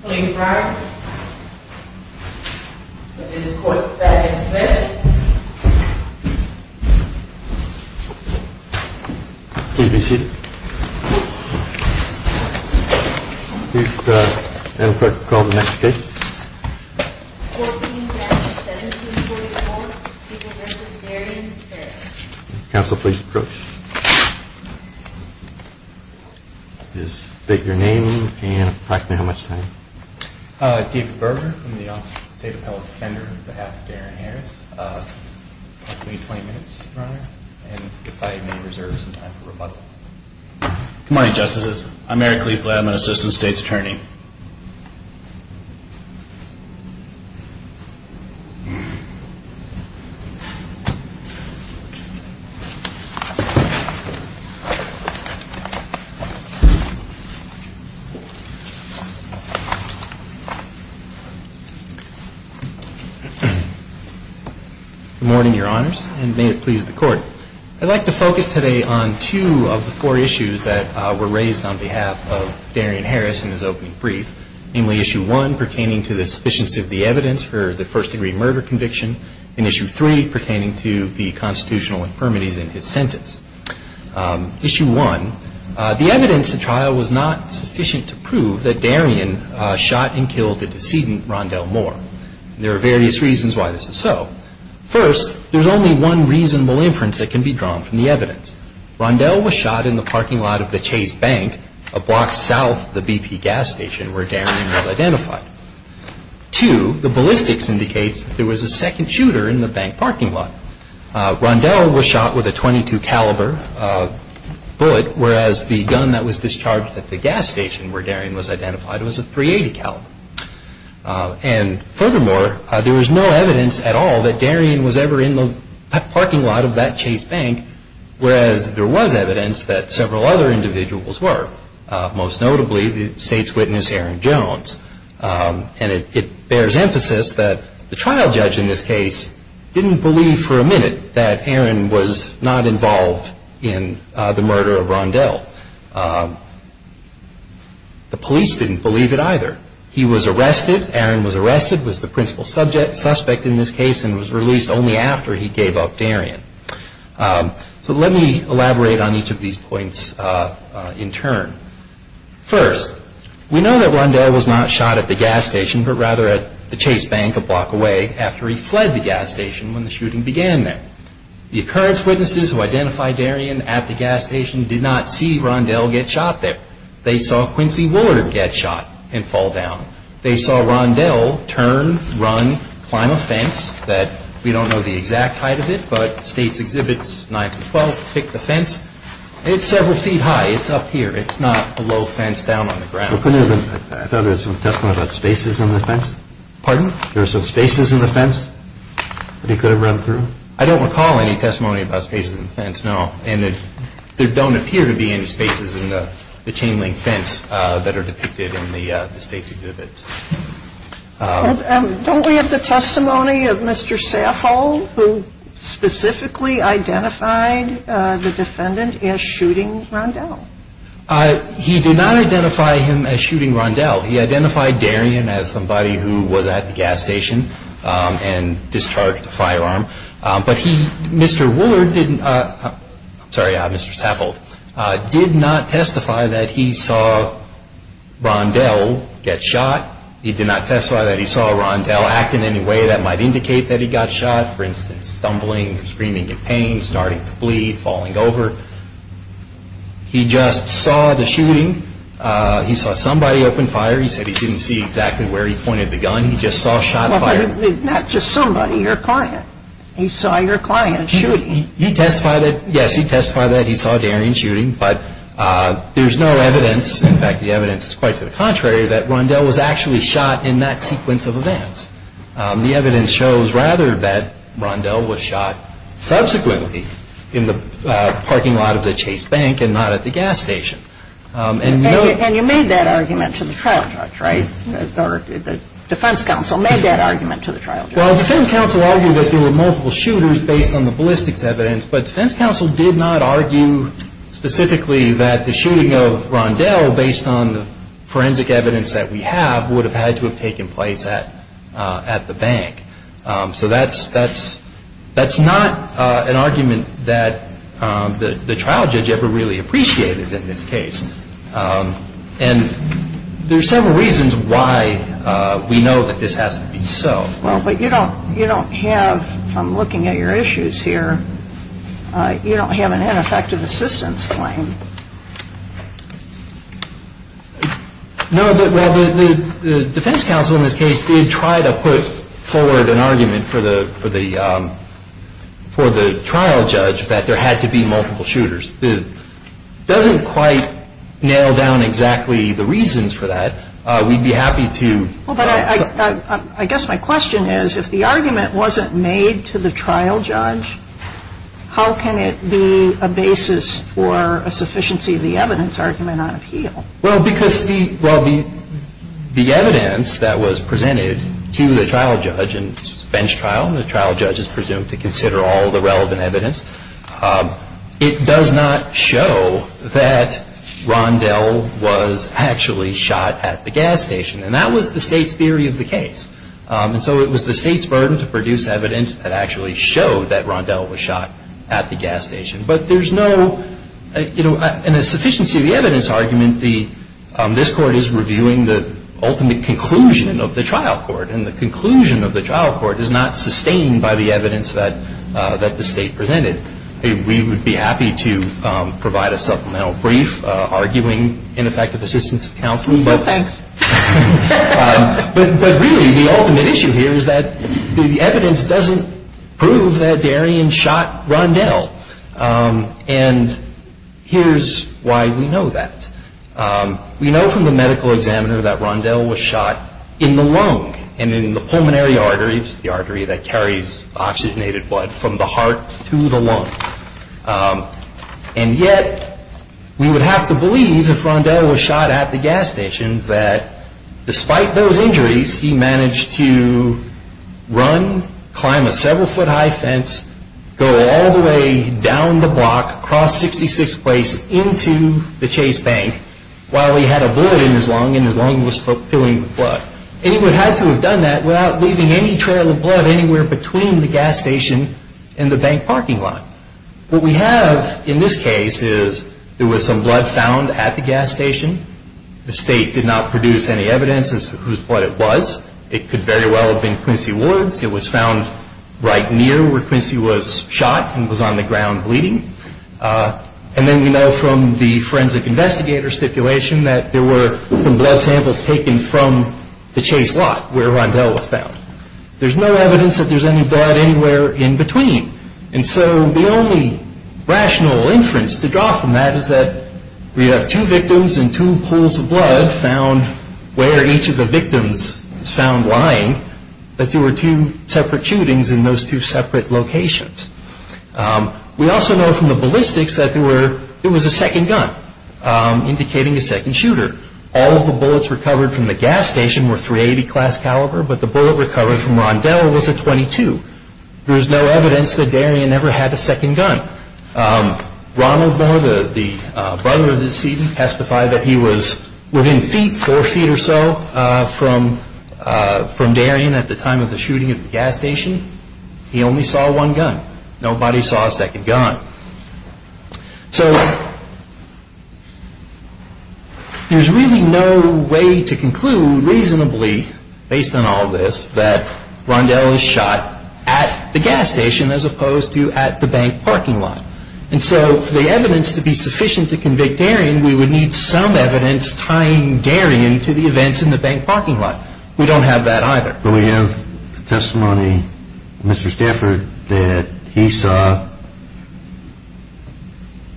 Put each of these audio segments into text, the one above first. Court being founded in 1744, People references Darien and Harry. Counsel, please approach. State your name and approximately how much time. David Berger, I'm the Office of the State Appellate Defender on behalf of Darien Harris. Approximately 20 minutes, Your Honor, and if I may reserve some time for rebuttal. Good morning, Justices. I'm Eric Leibland, Assistant State's Attorney. Good morning, Your Honors, and may it please the Court. I'd like to focus today on two of the four issues that were raised on behalf of Darien Harris in his opening brief, namely Issue 1 pertaining to the sufficiency of the evidence for the first-degree murder conviction and Issue 3 pertaining to the constitutional infirmities in his sentence. Issue 1, the evidence at trial was not sufficient to prove that Darien shot and killed the decedent, Rondell Moore. There are various reasons why this is so. First, there's only one reasonable inference that can be drawn from the evidence. Rondell was shot in the parking lot of the Chase Bank, a block south of the BP gas station where Darien was identified. Two, the ballistics indicates that there was a second shooter in the bank parking lot. Rondell was shot with a .22 caliber bullet, whereas the gun that was discharged at the gas station where Darien was identified was a .380 caliber. And furthermore, there is no evidence at all that Darien was ever in the parking lot of that Chase Bank, whereas there was evidence that several other individuals were, most notably the state's witness, Aaron Jones. And it bears emphasis that the trial judge in this case didn't believe for a minute that Aaron was not involved in the murder of Rondell. The police didn't believe it either. He was arrested, Aaron was arrested, was the principal suspect in this case, and was released only after he gave up Darien. So let me elaborate on each of these points in turn. First, we know that Rondell was not shot at the gas station, but rather at the Chase Bank a block away after he fled the gas station when the shooting began there. The occurrence witnesses who identified Darien at the gas station did not see Rondell get shot there. They saw Quincy Woolard get shot and fall down. They saw Rondell turn, run, climb a fence that we don't know the exact height of it, but state's exhibits 9th and 12th pick the fence. It's several feet high, it's up here, it's not a low fence down on the ground. I thought there was some testimony about spaces in the fence? Pardon? There were some spaces in the fence that he could have run through? I don't recall any testimony about spaces in the fence, no. And there don't appear to be any spaces in the chain link fence that are depicted in the state's exhibits. Don't we have the testimony of Mr. Saffold who specifically identified the defendant as shooting Rondell? He did not identify him as shooting Rondell. He identified Darien as somebody who was at the gas station and discharged the firearm. But Mr. Saffold did not testify that he saw Rondell get shot. He did not testify that he saw Rondell act in any way that might indicate that he got shot. For instance, stumbling, screaming in pain, starting to bleed, falling over. He just saw the shooting. He saw somebody open fire. He said he didn't see exactly where he pointed the gun. He just saw shots fired. Not just somebody, your client. He saw your client shooting. He testified that, yes, he testified that he saw Darien shooting. But there's no evidence, in fact the evidence is quite to the contrary, that Rondell was actually shot in that sequence of events. The evidence shows rather that Rondell was shot subsequently in the parking lot of the Chase Bank and not at the gas station. And you made that argument to the trial judge, right? The defense counsel made that argument to the trial judge. Well, the defense counsel argued that there were multiple shooters based on the ballistics evidence, but the defense counsel did not argue specifically that the shooting of Rondell, based on the forensic evidence that we have, would have had to have taken place at the bank. So that's not an argument that the trial judge ever really appreciated in this case. And there are several reasons why we know that this has to be so. Well, but you don't have, looking at your issues here, you don't have an ineffective assistance claim. No, but, well, the defense counsel in this case did try to put forward an argument for the trial judge that there had to be multiple shooters. It doesn't quite nail down exactly the reasons for that. We'd be happy to. Well, but I guess my question is, if the argument wasn't made to the trial judge, how can it be a basis for a sufficiency of the evidence argument on appeal? Well, because the evidence that was presented to the trial judge in this bench trial, the trial judge is presumed to consider all the relevant evidence. It does not show that Rondell was actually shot at the gas station. And that was the State's theory of the case. And so it was the State's burden to produce evidence that actually showed that Rondell was shot at the gas station. But there's no, you know, in a sufficiency of the evidence argument, this Court is reviewing the ultimate conclusion of the trial court. And the conclusion of the trial court is not sustained by the evidence that the State presented. We would be happy to provide a supplemental brief arguing ineffective assistance of counsel. Well, thanks. But really the ultimate issue here is that the evidence doesn't prove that Darian shot Rondell. And here's why we know that. We know from the medical examiner that Rondell was shot in the lung and in the pulmonary arteries, the artery that carries oxygenated blood from the heart to the lung. And yet we would have to believe if Rondell was shot at the gas station that despite those injuries, he managed to run, climb a several foot high fence, go all the way down the block, cross 66th Place into the Chase Bank while he had a bullet in his lung and his lung was filling with blood. And he would have to have done that without leaving any trail of blood anywhere between the gas station and the bank parking lot. What we have in this case is there was some blood found at the gas station. The State did not produce any evidence as to what it was. It could very well have been Quincy Ward's. It was found right near where Quincy was shot and was on the ground bleeding. And then we know from the forensic investigator stipulation that there were some blood samples taken from the Chase lot where Rondell was found. There's no evidence that there's any blood anywhere in between. And so the only rational inference to draw from that is that we have two victims and two pools of blood found where each of the victims was found lying, but there were two separate shootings in those two separate locations. We also know from the ballistics that there was a second gun indicating a second shooter. All of the bullets recovered from the gas station were .380 class caliber, but the bullet recovered from Rondell was a .22. There's no evidence that Darien ever had a second gun. Ronald Moore, the brother of the deceased, testified that he was within feet, four feet or so from Darien at the time of the shooting at the gas station. He only saw one gun. Nobody saw a second gun. So there's really no way to conclude reasonably based on all this that Rondell was shot at the gas station as opposed to at the bank parking lot. And so for the evidence to be sufficient to convict Darien, we would need some evidence tying Darien to the events in the bank parking lot. We don't have that either. But we have testimony, Mr. Stafford, that he saw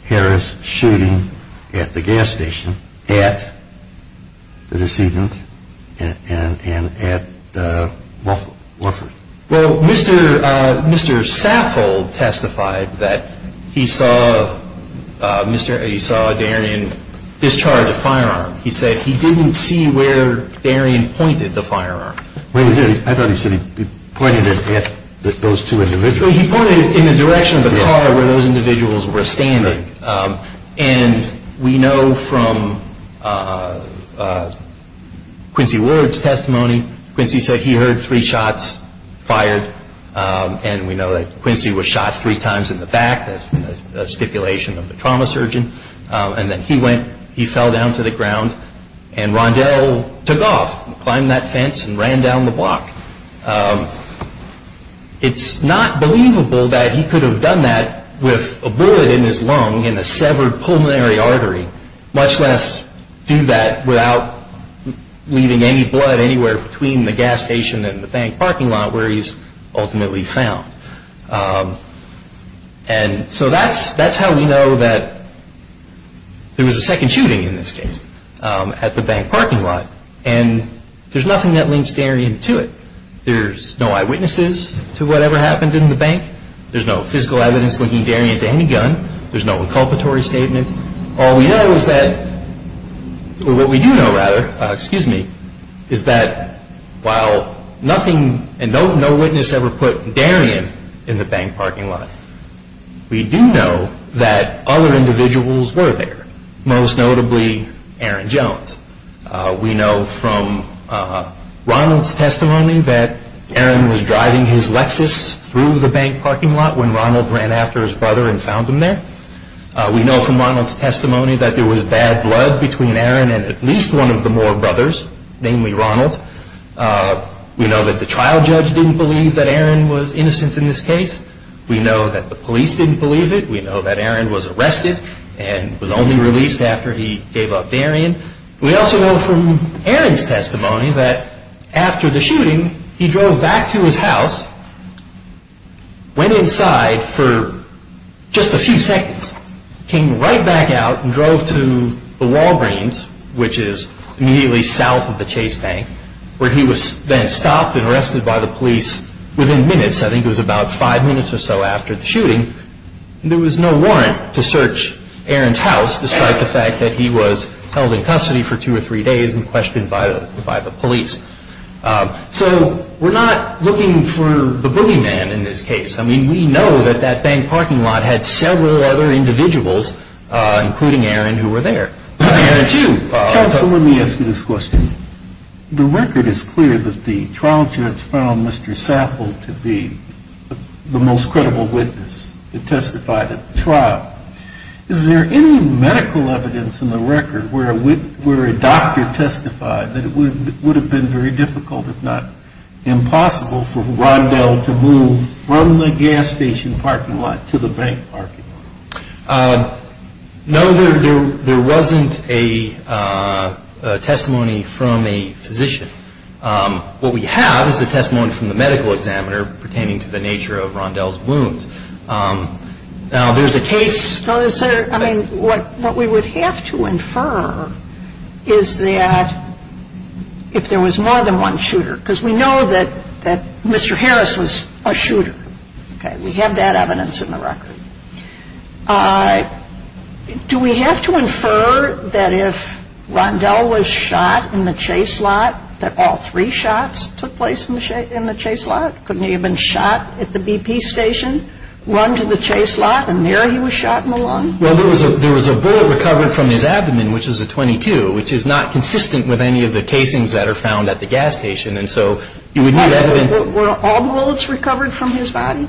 Harris shooting at the gas station, at the decedent, and at Wofford. Well, Mr. Saffold testified that he saw Darien discharge a firearm. He said he didn't see where Darien pointed the firearm. I thought he said he pointed it at those two individuals. He pointed it in the direction of the car where those individuals were standing. And we know from Quincy Ward's testimony, Quincy said he heard three shots fired. And we know that Quincy was shot three times in the back. That's a stipulation of the trauma surgeon. And then he went, he fell down to the ground, and Rondell took off, climbed that fence, and ran down the block. It's not believable that he could have done that with a bullet in his lung and a severed pulmonary artery, much less do that without leaving any blood anywhere between the gas station and the bank parking lot where he's ultimately found. And so that's how we know that there was a second shooting in this case at the bank parking lot. And there's nothing that links Darien to it. There's no eyewitnesses to whatever happened in the bank. There's no physical evidence linking Darien to any gun. There's no inculpatory statement. All we know is that, or what we do know, rather, excuse me, is that while nothing and no witness ever put Darien in the bank parking lot, we do know that other individuals were there, most notably Aaron Jones. We know from Ronald's testimony that Aaron was driving his Lexus through the bank parking lot when Ronald ran after his brother and found him there. We know from Ronald's testimony that there was bad blood between Aaron and at least one of the Moore brothers, namely Ronald. We know that the trial judge didn't believe that Aaron was innocent in this case. We know that the police didn't believe it. We know that Aaron was arrested and was only released after he gave up Darien. We also know from Aaron's testimony that after the shooting, he drove back to his house, went inside for just a few seconds, came right back out and drove to the Walgreens, which is immediately south of the Chase Bank, where he was then stopped and arrested by the police within minutes. I think it was about five minutes or so after the shooting. There was no warrant to search Aaron's house, despite the fact that he was held in custody for two or three days and questioned by the police. So we're not looking for the boogeyman in this case. I mean, we know that that bank parking lot had several other individuals, including Aaron, who were there. Counsel, let me ask you this question. The record is clear that the trial judge found Mr. Saffold to be the most credible witness that testified at the trial. Is there any medical evidence in the record where a doctor testified that it would have been very difficult, if not impossible, for Rondell to move from the gas station parking lot to the bank parking lot? No, there wasn't a testimony from a physician. What we have is a testimony from the medical examiner pertaining to the nature of Rondell's wounds. Now, there's a case. I mean, what we would have to infer is that if there was more than one shooter, because we know that Mr. Harris was a shooter. We have that evidence in the record. Do we have to infer that if Rondell was shot in the chase lot, that all three shots took place in the chase lot? Couldn't he have been shot at the BP station, run to the chase lot, and there he was shot in the lung? Well, there was a bullet recovered from his abdomen, which is a .22, which is not consistent with any of the casings that are found at the gas station. And so you would need evidence. Were all the bullets recovered from his body?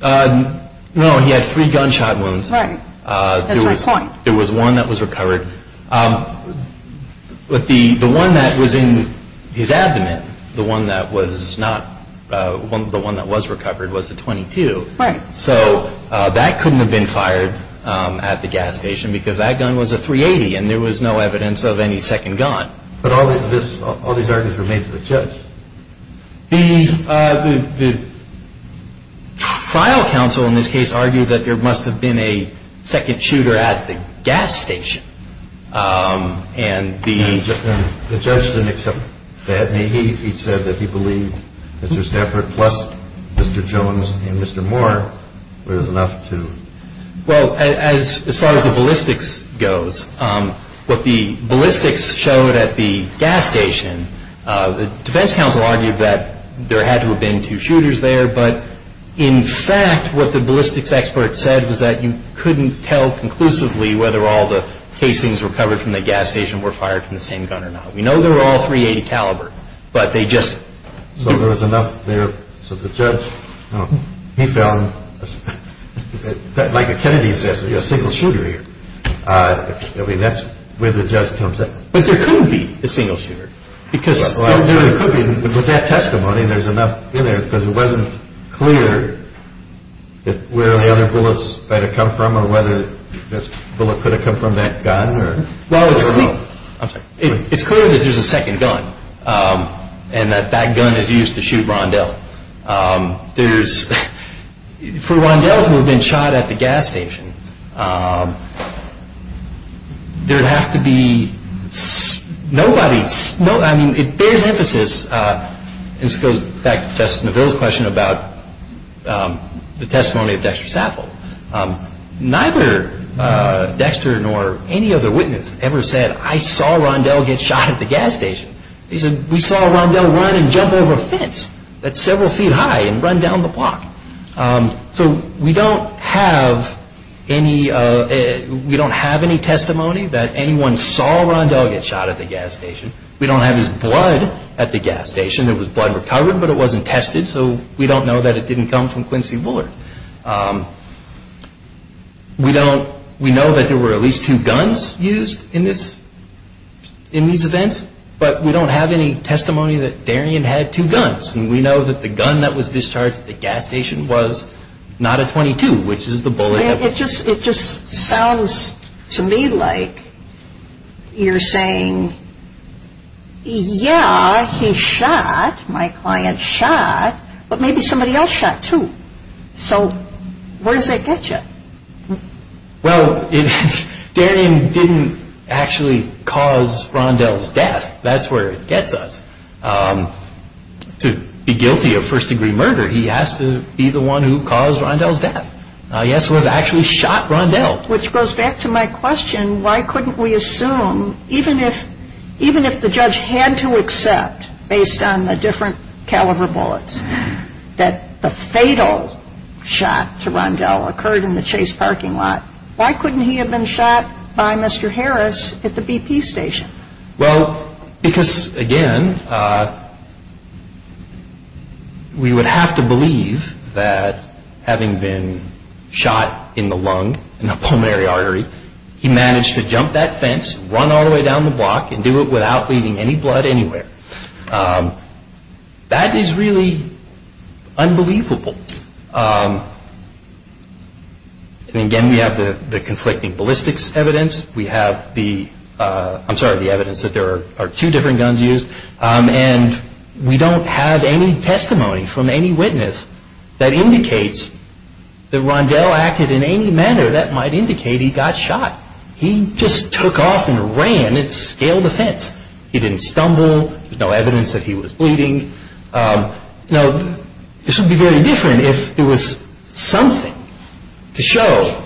No, he had three gunshot wounds. Right. That's my point. There was one that was recovered. But the one that was in his abdomen, the one that was not, the one that was recovered was the .22. Right. So that couldn't have been fired at the gas station because that gun was a .380, and there was no evidence of any second gun. But all these arguments were made to the judge. The trial counsel in this case argued that there must have been a second shooter at the gas station, and the… The judge didn't accept that. He said that he believed Mr. Stafford plus Mr. Jones and Mr. Moore were enough to… Well, as far as the ballistics goes, what the ballistics showed at the gas station, the defense counsel argued that there had to have been two shooters there, but in fact what the ballistics expert said was that you couldn't tell conclusively whether all the casings recovered from the gas station were fired from the same gun or not. We know they were all .380 caliber, but they just… So there was enough there, so the judge, he found, like a Kennedy says, a single shooter here. I mean, that's where the judge comes in. But there couldn't be a single shooter because… Well, there could be, but with that testimony, there's enough in there because it wasn't clear where the other bullets might have come from or whether this bullet could have come from that gun or… Well, it's clear that there's a second gun, and that that gun is used to shoot Rondell. There's… For Rondell to have been shot at the gas station, there would have to be… Nobody… I mean, it bears emphasis… This goes back to Justice Neville's question about the testimony of Dexter Saffold. Neither Dexter nor any other witness ever said, I saw Rondell get shot at the gas station. They said, we saw Rondell run and jump over a fence that's several feet high and run down the block. So we don't have any… We don't have any testimony that anyone saw Rondell get shot at the gas station. We don't have his blood at the gas station. It was blood recovered, but it wasn't tested, so we don't know that it didn't come from Quincy Bullard. We don't… We know that there were at least two guns used in this… In these events, but we don't have any testimony that Darien had two guns. And we know that the gun that was discharged at the gas station was not a .22, which is the bullet… It just… It just sounds to me like you're saying, yeah, he shot, my client shot, but maybe somebody else shot, too. So where does that get you? Well, it… Darien didn't actually cause Rondell's death. That's where it gets us. To be guilty of first-degree murder, he has to be the one who caused Rondell's death. He has to have actually shot Rondell. Which goes back to my question. Why couldn't we assume, even if… Even if the judge had to accept, based on the different caliber bullets, that the fatal shot to Rondell occurred in the Chase parking lot, why couldn't he have been shot by Mr. Harris at the BP station? Well, because, again, we would have to believe that, having been shot in the lung, in the pulmonary artery, he managed to jump that fence, run all the way down the block, and do it without bleeding any blood anywhere. That is really unbelievable. And again, we have the conflicting ballistics evidence. We have the… I'm sorry, the evidence that there are two different guns used. And we don't have any testimony from any witness that indicates that Rondell acted in any manner that might indicate he got shot. He just took off and ran and scaled the fence. He didn't stumble. There's no evidence that he was bleeding. Now, this would be very different if there was something to show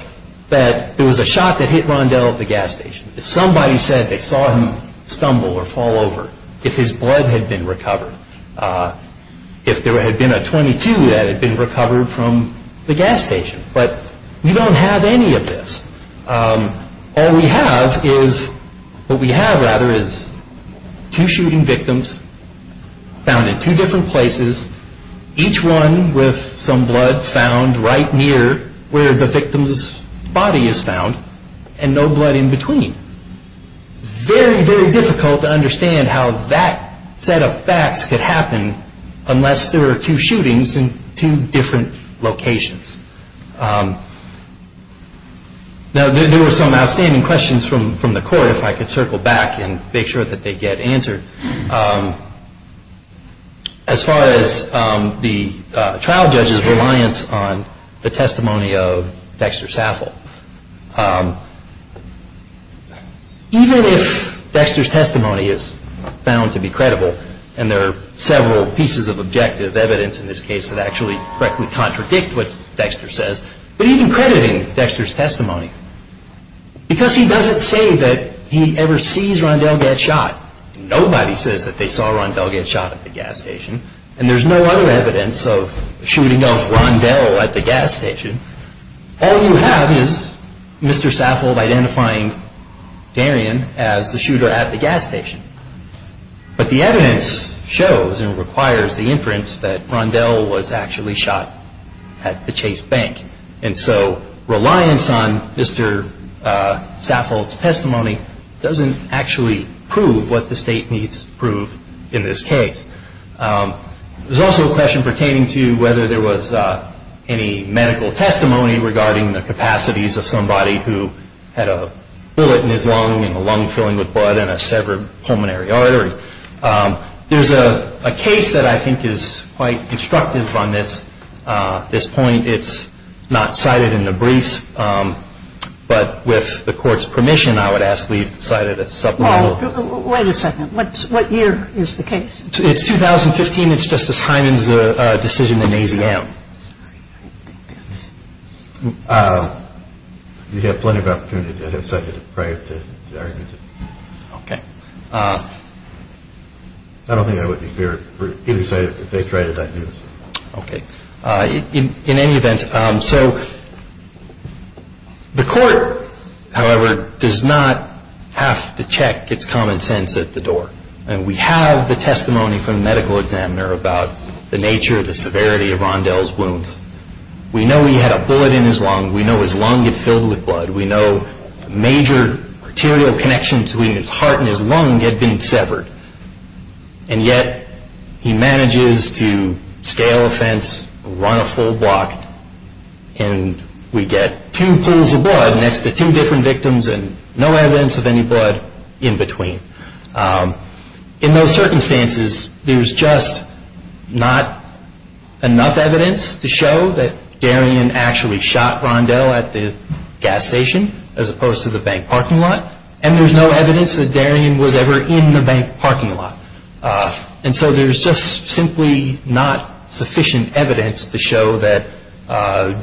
that there was a shot that hit Rondell at the gas station. If somebody said they saw him stumble or fall over, if his blood had been recovered, if there had been a .22 that had been recovered from the gas station. But we don't have any of this. All we have is… what we have, rather, is two shooting victims found in two different places, each one with some blood found right near where the victim's body is found, and no blood in between. It's very, very difficult to understand how that set of facts could happen unless there are two shootings in two different locations. Now, there were some outstanding questions from the court, if I could circle back and make sure that they get answered. As far as the trial judge's reliance on the testimony of Dexter Saffel, even if Dexter's testimony is found to be credible, and there are several pieces of objective evidence in this case that actually correctly contradict what Dexter says, but even crediting Dexter's testimony, because he doesn't say that he ever sees Rondell get shot, nobody says that they saw Rondell get shot at the gas station, and there's no other evidence of the shooting of Rondell at the gas station, all you have is Mr. Saffel identifying Darien as the shooter at the gas station. But the evidence shows and requires the inference that Rondell was actually shot at the Chase Bank, doesn't actually prove what the state needs to prove in this case. There's also a question pertaining to whether there was any medical testimony regarding the capacities of somebody who had a bullet in his lung and a lung filling with blood and a severed pulmonary artery. There's a case that I think is quite instructive on this point. It's not cited in the briefs, but with the Court's permission, I would ask that we cite it as supplemental. Wait a second. What year is the case? It's 2015. It's Justice Hyman's decision in AZM. You have plenty of opportunity to have cited it prior to the argument. Okay. I don't think that would be fair. Either side, if they tried it, I'd use it. Okay. In any event, so the Court, however, does not have to check its common sense at the door. And we have the testimony from the medical examiner about the nature, the severity of Rondell's wounds. We know he had a bullet in his lung. We know his lung had filled with blood. We know major arterial connections between his heart and his lung had been severed. And yet he manages to scale a fence, run a full block, and we get two pools of blood next to two different victims and no evidence of any blood in between. In those circumstances, there's just not enough evidence to show that Darien actually shot Rondell at the gas station as opposed to the bank parking lot, and there's no evidence that Darien was ever in the bank parking lot. And so there's just simply not sufficient evidence to show that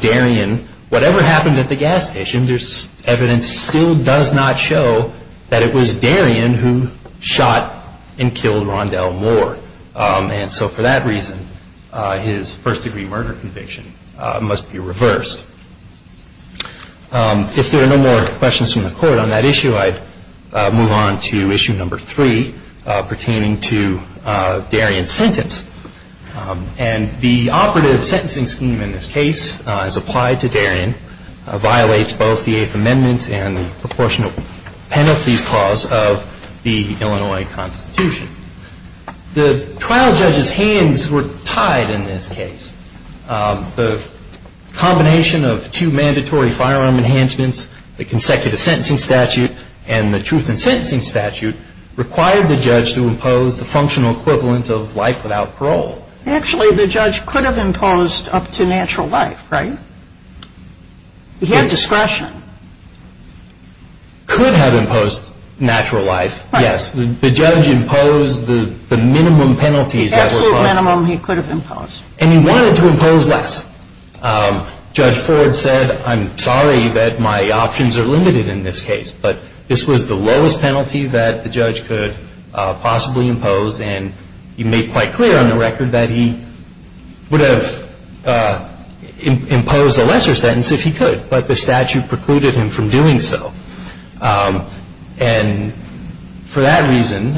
Darien, whatever happened at the gas station, there's evidence still does not show that it was Darien who shot and killed Rondell Moore. And so for that reason, his first-degree murder conviction must be reversed. If there are no more questions from the Court on that issue, I'd move on to issue number three pertaining to Darien's sentence. And the operative sentencing scheme in this case as applied to Darien violates both the Eighth Amendment and the Proportionate Penalties Clause of the Illinois Constitution. The trial judge's hands were tied in this case. The combination of two mandatory firearm enhancements, the consecutive sentencing statute and the truth in sentencing statute required the judge to impose the functional equivalent of life without parole. Actually, the judge could have imposed up to natural life, right? He had discretion. Could have imposed natural life, yes. The judge imposed the minimum penalties. Absolute minimum he could have imposed. And he wanted to impose less. Judge Ford said, I'm sorry that my options are limited in this case, but this was the lowest penalty that the judge could possibly impose. And he made quite clear on the record that he would have imposed a lesser sentence if he could, but the statute precluded him from doing so. And for that reason,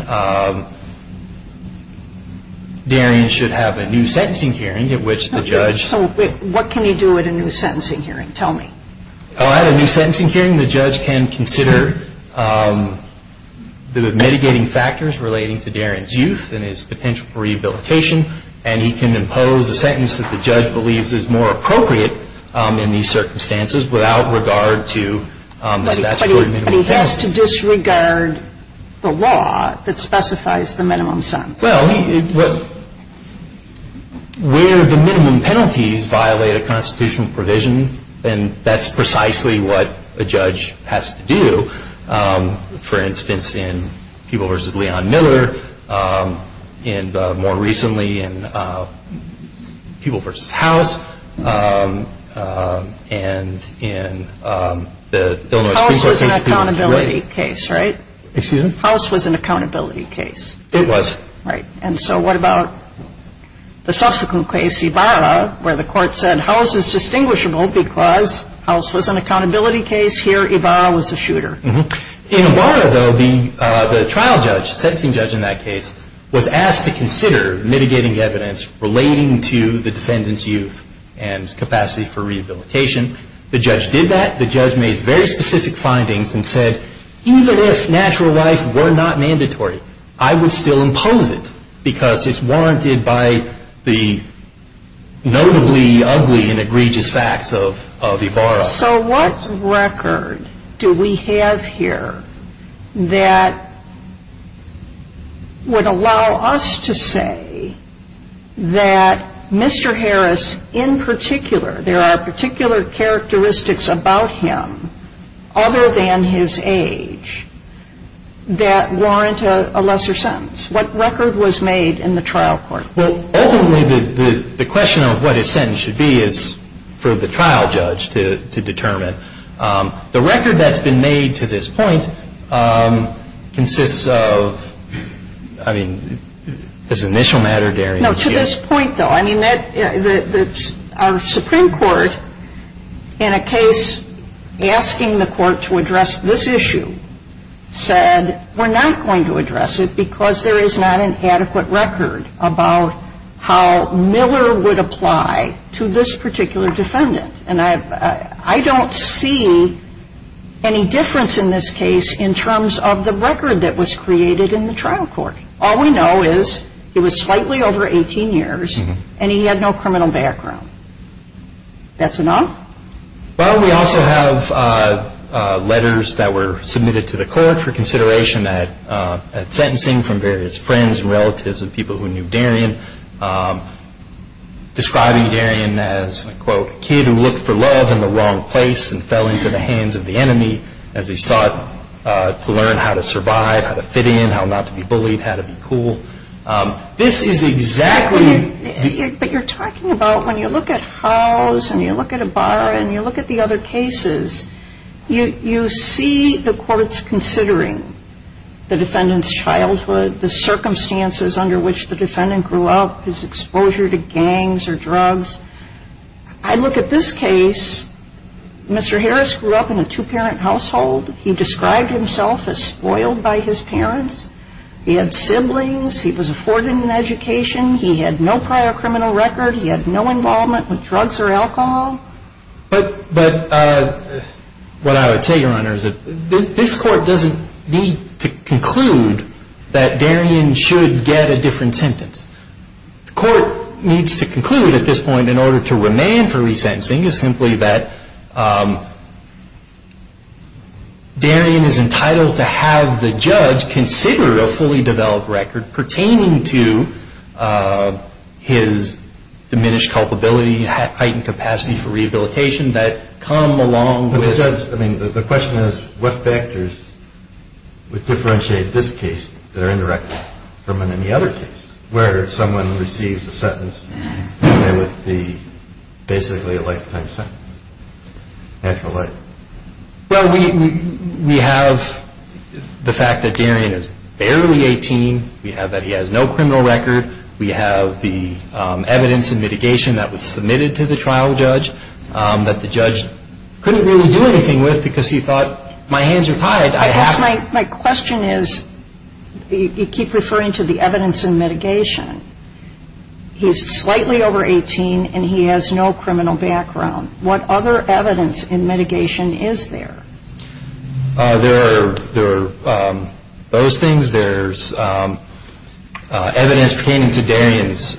Darien should have a new sentencing hearing at which the judge… Okay. So what can he do at a new sentencing hearing? Tell me. At a new sentencing hearing, the judge can consider the mitigating factors relating to Darien's youth and his potential for rehabilitation, and he can impose a sentence that the judge believes is more appropriate in these circumstances without regard to the statutory minimum penalties. But he has to disregard the law that specifies the minimum sentence. Well, where the minimum penalties violate a constitutional provision, then that's precisely what a judge has to do. For instance, in Peeble v. Leon Miller, and more recently in Peeble v. House, and in the Illinois Supreme Court… House was an accountability case, right? Excuse me? House was an accountability case. It was. And so what about the subsequent case, Ibarra, where the court said House is distinguishable because House was an accountability case. Here, Ibarra was a shooter. In Ibarra, though, the trial judge, sentencing judge in that case, was asked to consider mitigating evidence relating to the defendant's youth and capacity for rehabilitation. The judge did that. The judge made very specific findings and said, even if natural life were not mandatory, I would still impose it because it's warranted by the notably ugly and egregious facts of Ibarra. So what record do we have here that would allow us to say that Mr. Harris, in particular, there are particular characteristics about him, other than his age, that warrant a lesser sentence? What record was made in the trial court? Well, ultimately, the question of what his sentence should be is for the trial judge to determine. The record that's been made to this point consists of, I mean, this initial matter, Darian. No, to this point, though. I mean, our Supreme Court, in a case asking the court to address this issue, said we're not going to address it because there is not an adequate record about how Miller would apply to this particular defendant. And I don't see any difference in this case in terms of the record that was created in the trial court. All we know is he was slightly over 18 years, and he had no criminal background. That's enough? Well, we also have letters that were submitted to the court for consideration at sentencing from various friends and relatives of people who knew Darian, describing Darian as, quote, a kid who looked for love in the wrong place and fell into the hands of the enemy as he sought to learn how to survive, how to fit in, how not to be bullied, how to be cool. This is exactly- But you're talking about when you look at Howes and you look at Ibarra and you look at the other cases, you see the courts considering the defendant's childhood, the circumstances under which the defendant grew up, his exposure to gangs or drugs. I look at this case. Mr. Harris grew up in a two-parent household. He described himself as spoiled by his parents. He had siblings. He was afforded an education. He had no prior criminal record. He had no involvement with drugs or alcohol. But what I would say, Your Honor, is that this court doesn't need to conclude that Darian should get a different sentence. The court needs to conclude at this point in order to remand for resentencing is simply that Darian is entitled to have the judge consider a fully developed record pertaining to his diminished culpability, heightened capacity for rehabilitation that come along with- But, Judge, I mean, the question is what factors would differentiate this case that are indirect from any other case where someone receives a sentence that would be basically a lifetime sentence, natural life? Well, we have the fact that Darian is barely 18. We have that he has no criminal record. We have the evidence and mitigation that was submitted to the trial judge that the judge couldn't really do anything with because he thought, my hands are tied, I have to- I guess my question is you keep referring to the evidence and mitigation. He's slightly over 18, and he has no criminal background. What other evidence and mitigation is there? There are those things. There's evidence pertaining to Darian's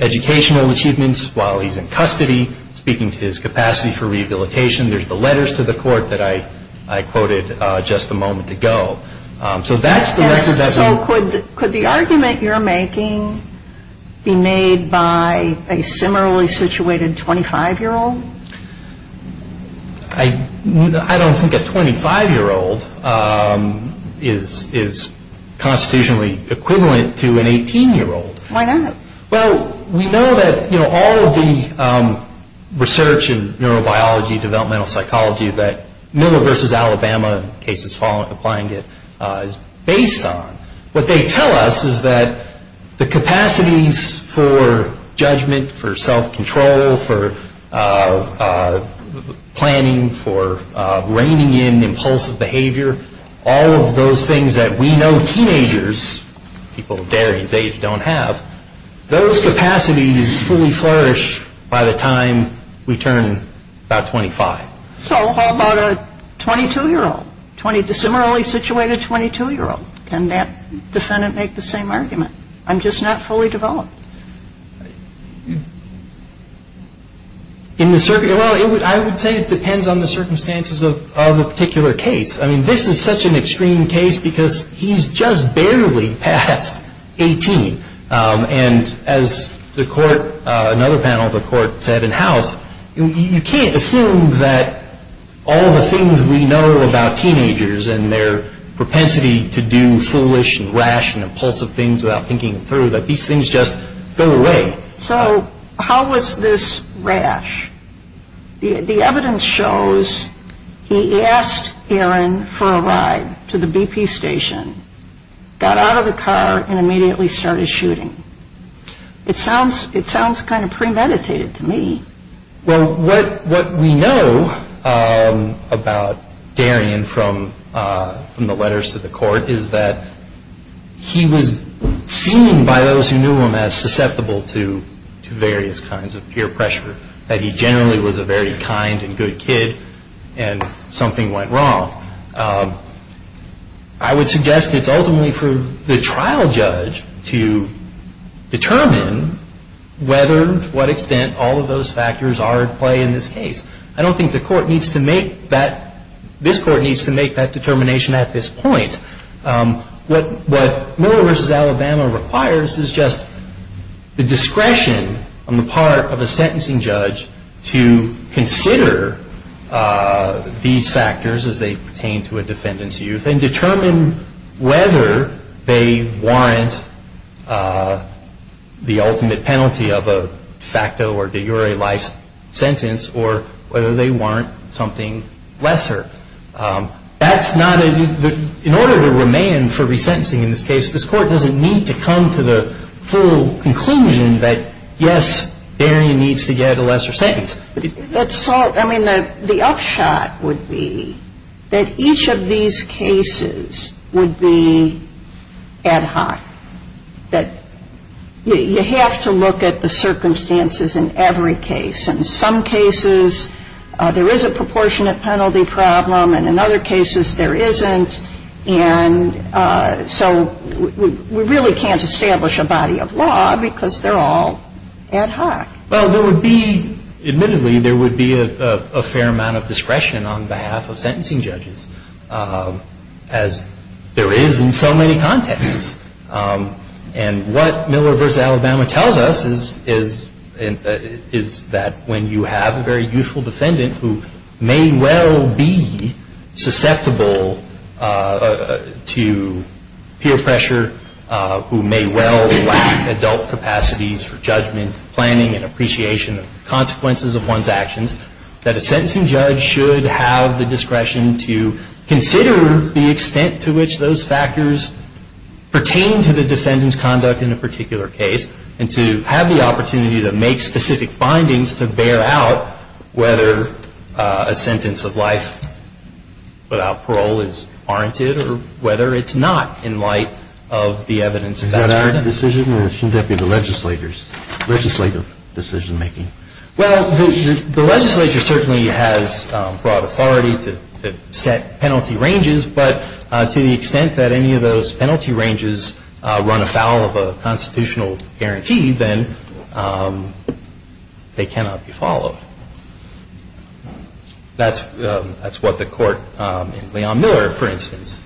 educational achievements while he's in custody, speaking to his capacity for rehabilitation. There's the letters to the court that I quoted just a moment ago. So that's the- And so could the argument you're making be made by a similarly situated 25-year-old? I don't think a 25-year-old is constitutionally equivalent to an 18-year-old. Why not? Well, we know that all of the research in neurobiology, developmental psychology, that Miller v. Alabama, the cases applying it, is based on. What they tell us is that the capacities for judgment, for self-control, for planning, for reining in impulsive behavior, all of those things that we know teenagers, people Darian's age, don't have, those capacities fully flourish by the time we turn about 25. So how about a 22-year-old, similarly situated 22-year-old? Can that defendant make the same argument? I'm just not fully developed. Well, I would say it depends on the circumstances of the particular case. I mean, this is such an extreme case because he's just barely past 18. And as another panel of the court said in-house, you can't assume that all of the things we know about teenagers and their propensity to do foolish and rash and impulsive things without thinking them through, that these things just go away. So how was this rash? The evidence shows he asked Erin for a ride to the BP station, got out of the car, and immediately started shooting. It sounds kind of premeditated to me. Well, what we know about Darian from the letters to the court is that he was seen by those who knew him as susceptible to various kinds of peer pressure, that he generally was a very kind and good kid, and something went wrong. I would suggest it's ultimately for the trial judge to determine whether, to what extent, all of those factors are at play in this case. I don't think the court needs to make that. This court needs to make that determination at this point. What Miller v. Alabama requires is just the discretion on the part of a sentencing judge to consider these factors as they pertain to a defendant's youth and determine whether they warrant the ultimate penalty of a de facto or de jure life sentence or whether they warrant something lesser. That's not a — in order to remain for resentencing in this case, this court doesn't need to come to the full conclusion that, yes, Darian needs to get a lesser sentence. I mean, the upshot would be that each of these cases would be ad hoc, that you have to look at the circumstances in every case. In some cases, there is a proportionate penalty problem, and in other cases there isn't. And so we really can't establish a body of law because they're all ad hoc. Well, there would be — admittedly, there would be a fair amount of discretion on behalf of sentencing judges, as there is in so many contexts. And what Miller v. Alabama tells us is that when you have a very youthful defendant who may well be susceptible to peer pressure, who may well lack adult capacities for judgment, planning, and appreciation of the consequences of one's actions, that a sentencing judge should have the discretion to consider the extent to which those factors pertain to the defendant's conduct in a particular case and to have the opportunity to make specific findings to bear out whether a sentence of life without parole is warranted or whether it's not in light of the evidence that's presented. Is that our decision, or should that be the legislator's — legislative decision-making? Well, the legislature certainly has broad authority to set penalty ranges, but to the extent that any of those penalty ranges run afoul of a constitutional guarantee, then they cannot be followed. That's what the Court in Leon Miller, for instance,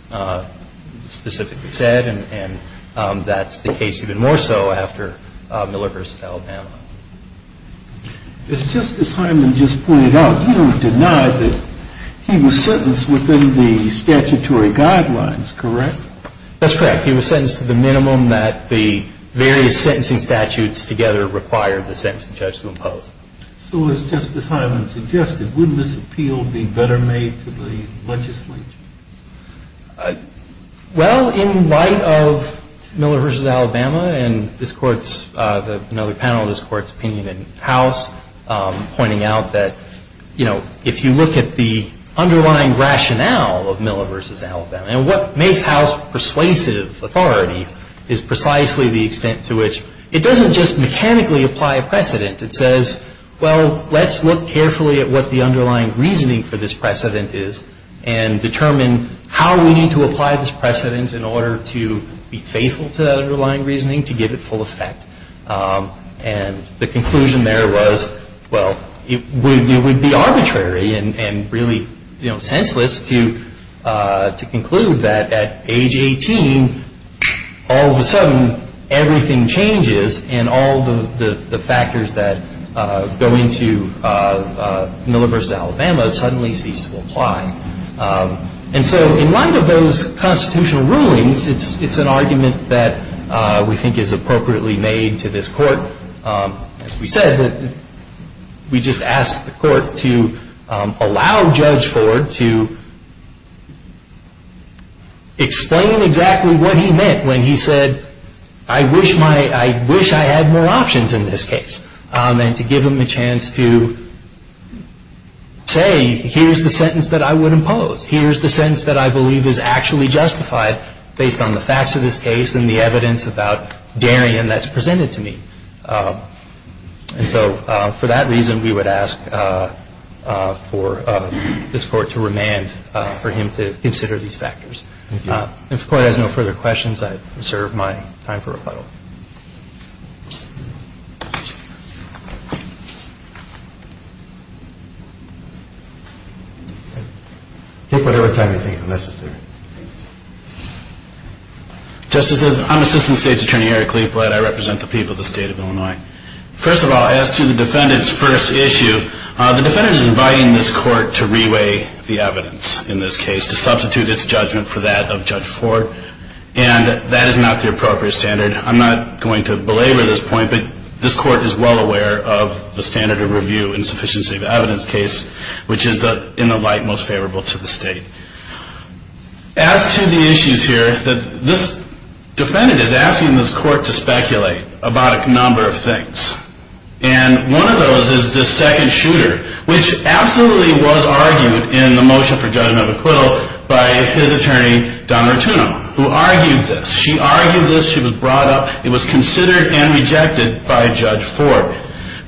specifically said, and that's the case even more so after Miller v. Alabama. As Justice Hyman just pointed out, you don't deny that he was sentenced within the statutory guidelines, correct? That's correct. He was sentenced to the minimum that the various sentencing statutes together required the sentencing judge to impose. So as Justice Hyman suggested, wouldn't this appeal be better made to the legislature? Well, in light of Miller v. Alabama and this Court's — another panel of this Court's opinion in House, pointing out that, you know, if you look at the underlying rationale of Miller v. Alabama, and what makes House persuasive authority is precisely the extent to which it doesn't just mechanically apply a precedent. It says, well, let's look carefully at what the underlying reasoning for this precedent is and determine how we need to apply this precedent in order to be faithful to that underlying reasoning to give it full effect. And the conclusion there was, well, it would be arbitrary and really, you know, senseless to conclude that at age 18, all of a sudden, everything changes and all the factors that go into Miller v. Alabama suddenly cease to apply. And so in light of those constitutional rulings, it's an argument that we think is appropriately made to this Court. As we said, we just asked the Court to allow Judge Ford to explain exactly what he meant when he said, I wish my — I wish I had more options in this case, and to give him a chance to say, here's the sentence that I would impose, here's the sentence that I believe is actually justified based on the facts of this case and the evidence about Darien that's presented to me. And so for that reason, we would ask for this Court to remand for him to consider these factors. If the Court has no further questions, I reserve my time for rebuttal. Take whatever time you think is necessary. Thank you. Justices, I'm Assistant State's Attorney Eric Liepled. I represent the people of the State of Illinois. First of all, as to the defendant's first issue, the defendant is inviting this Court to reweigh the evidence in this case, to substitute its judgment for that of Judge Ford. I'm not going to argue with that. I'm not going to belabor this point, but this Court is well aware of the standard of review in sufficiency of evidence case, which is, in the light, most favorable to the State. As to the issues here, this defendant is asking this Court to speculate about a number of things. And one of those is this second shooter, which absolutely was argued in the motion for judgment of acquittal by his attorney, Donna Tunum, who argued this. She argued this. She was brought up. It was considered and rejected by Judge Ford.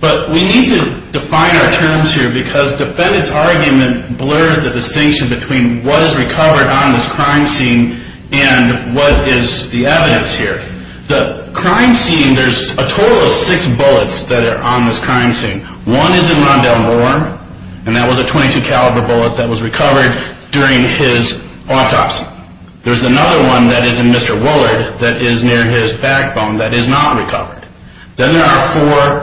But we need to define our terms here because defendant's argument blurs the distinction between what is recovered on this crime scene and what is the evidence here. The crime scene, there's a total of six bullets that are on this crime scene. One is in Rondell Moore, and that was a .22 caliber bullet that was recovered during his autopsy. There's another one that is in Mr. Woollard that is near his backbone that is not recovered. Then there are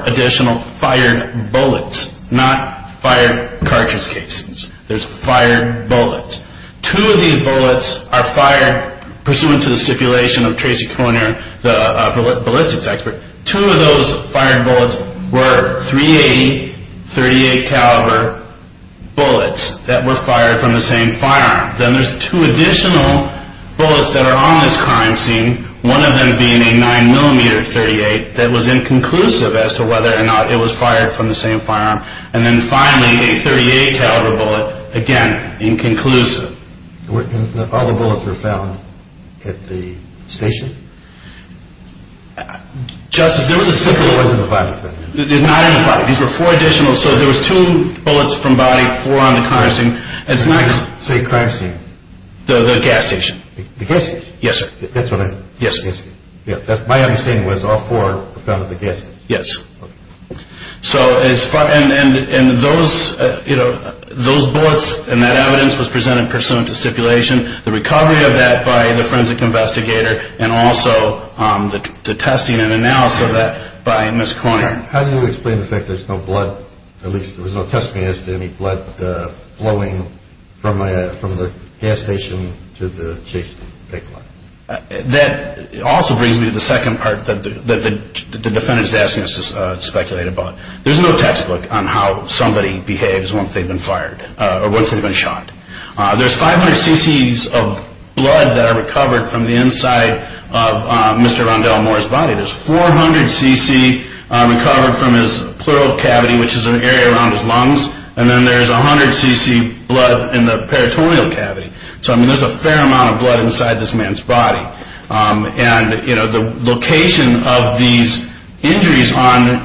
four additional fired bullets, not fired cartridge cases. There's fired bullets. Two of these bullets are fired pursuant to the stipulation of Tracy Koerner, the ballistics expert. Two of those fired bullets were .38 caliber bullets that were fired from the same firearm. Then there's two additional bullets that are on this crime scene, one of them being a 9mm .38 that was inconclusive as to whether or not it was fired from the same firearm. And then finally, a .38 caliber bullet, again, inconclusive. All the bullets were found at the station? Justice, there was a stipulation. These were four additional. So there was two bullets from body, four on the crime scene. The crime scene? The gas station. The gas station? Yes, sir. My understanding was all four were found at the gas station? Yes. And those bullets and that evidence was presented pursuant to stipulation, the recovery of that by the forensic investigator, and also the testing and analysis of that by Ms. Koerner. How do you explain the fact there's no blood? At least there was no testimony as to any blood flowing from the gas station to the chase pick line. That also brings me to the second part that the defendant is asking us to speculate about. There's no textbook on how somebody behaves once they've been fired or once they've been shot. There's 500 cc's of blood that are recovered from the inside of Mr. Rondell Moore's body. There's 400 cc recovered from his pleural cavity, which is an area around his lungs, and then there's 100 cc blood in the peritoneal cavity. So, I mean, there's a fair amount of blood inside this man's body. And, you know, the location of these injuries on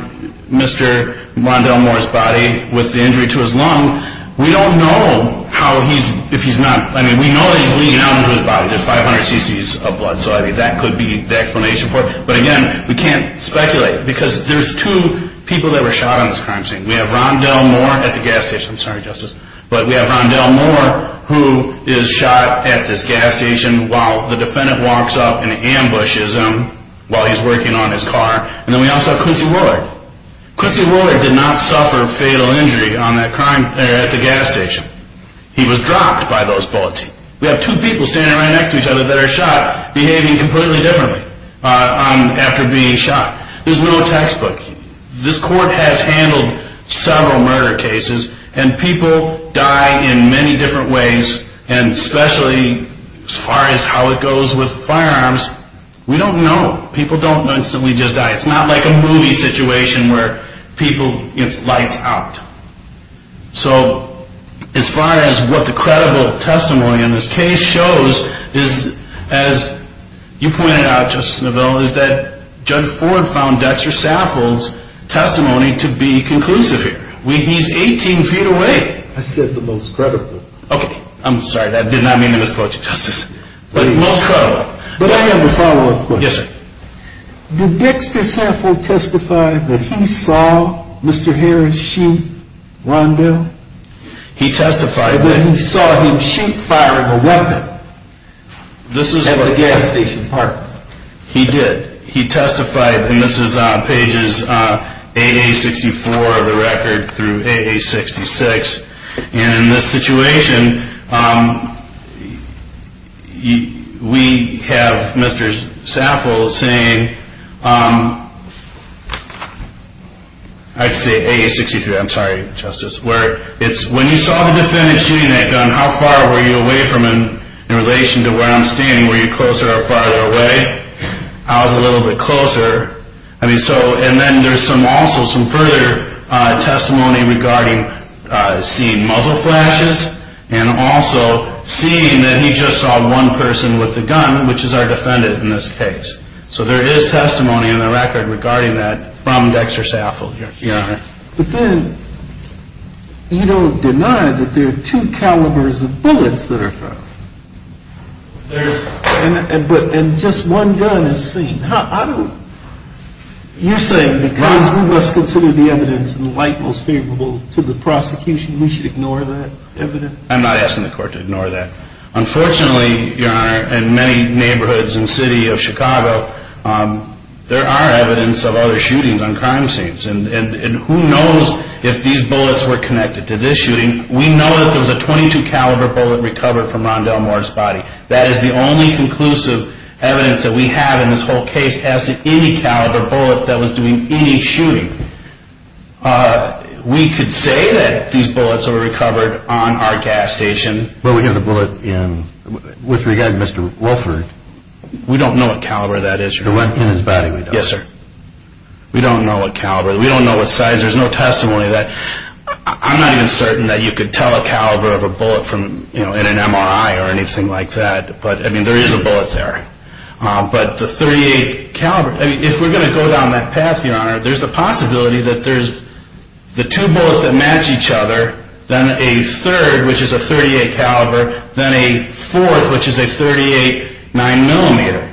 Mr. Rondell Moore's body with the injury to his lung, we don't know how he's, if he's not, I mean, we know that he's leaning out into his body. There's 500 cc's of blood, so I think that could be the explanation for it. But, again, we can't speculate because there's two people that were shot on this crime scene. We have Rondell Moore at the gas station. I'm sorry, Justice, but we have Rondell Moore who is shot at this gas station while the defendant walks up and ambushes him while he's working on his car. And then we also have Quincy Woolard. Quincy Woolard did not suffer fatal injury on that crime, at the gas station. He was dropped by those bullets. We have two people standing right next to each other that are shot behaving completely differently after being shot. There's no textbook. This court has handled several murder cases, and people die in many different ways, and especially as far as how it goes with firearms, we don't know. People don't know until we just die. It's not like a movie situation where people, you know, it's lights out. So as far as what the credible testimony in this case shows, as you pointed out, Justice Neville, is that Judge Ford found Dexter Saffold's testimony to be conclusive here. He's 18 feet away. I said the most credible. Okay. I'm sorry. That did not mean to misquote you, Justice. But the most credible. But I have a follow-up question. Yes, sir. Did Dexter Saffold testify that he saw Mr. Harris shoot Wando? He testified that he saw him shoot, firing a weapon at the gas station park. He did. He testified, and this is on pages 8A64 of the record through 8A66, and in this situation, we have Mr. Saffold saying, I'd say 8A63, I'm sorry, Justice, where it's when you saw the defendant shooting that gun, how far were you away from him in relation to where I'm standing? Were you closer or farther away? I was a little bit closer. And then there's also some further testimony regarding seeing muzzle flashes and also seeing that he just saw one person with the gun, which is our defendant in this case. So there is testimony in the record regarding that from Dexter Saffold. But then you don't deny that there are two calibers of bullets that are found. And just one gun is seen. You're saying because we must consider the evidence in light most favorable to the prosecution, we should ignore that evidence? I'm not asking the court to ignore that. Unfortunately, Your Honor, in many neighborhoods and city of Chicago, there are evidence of other shootings on crime scenes. And who knows if these bullets were connected to this shooting. We know that there was a .22 caliber bullet recovered from Ron Delmore's body. That is the only conclusive evidence that we have in this whole case as to any caliber bullet that was doing any shooting. We could say that these bullets were recovered on our gas station. But we have the bullet in, with regard to Mr. Wolford. We don't know what caliber that is, Your Honor. In his body, we don't. Yes, sir. We don't know what caliber. We don't know what size. There's no testimony that, I'm not even certain that you could tell a caliber of a bullet in an MRI or anything like that. But there is a bullet there. But the .38 caliber, if we're going to go down that path, Your Honor, there's a possibility that there's the two bullets that match each other. Then a third, which is a .38 caliber. Then a fourth, which is a .38 9mm.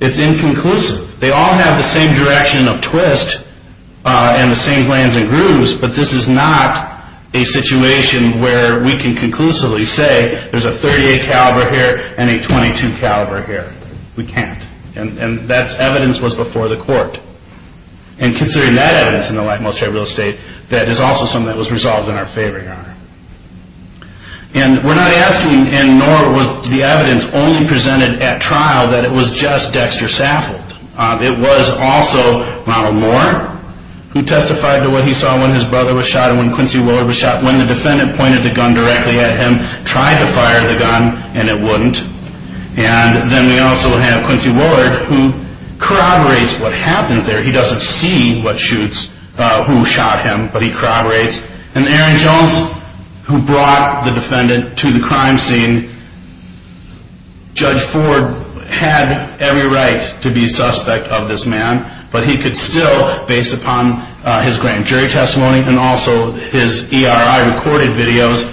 It's inconclusive. They all have the same direction of twist and the same lanes and grooves, but this is not a situation where we can conclusively say there's a .38 caliber here and a .22 caliber here. We can't. And that evidence was before the court. And considering that evidence in the lightmost area of real estate, And we're not asking, and nor was the evidence only presented at trial, that it was just Dexter Saffold. It was also Ronald Moore, who testified to what he saw when his brother was shot and when Quincy Willard was shot, when the defendant pointed the gun directly at him, tried to fire the gun, and it wouldn't. And then we also have Quincy Willard, who corroborates what happens there. He doesn't see what shoots, who shot him, but he corroborates. And Aaron Jones, who brought the defendant to the crime scene, Judge Ford had every right to be a suspect of this man, but he could still, based upon his grand jury testimony and also his ERI recorded videos,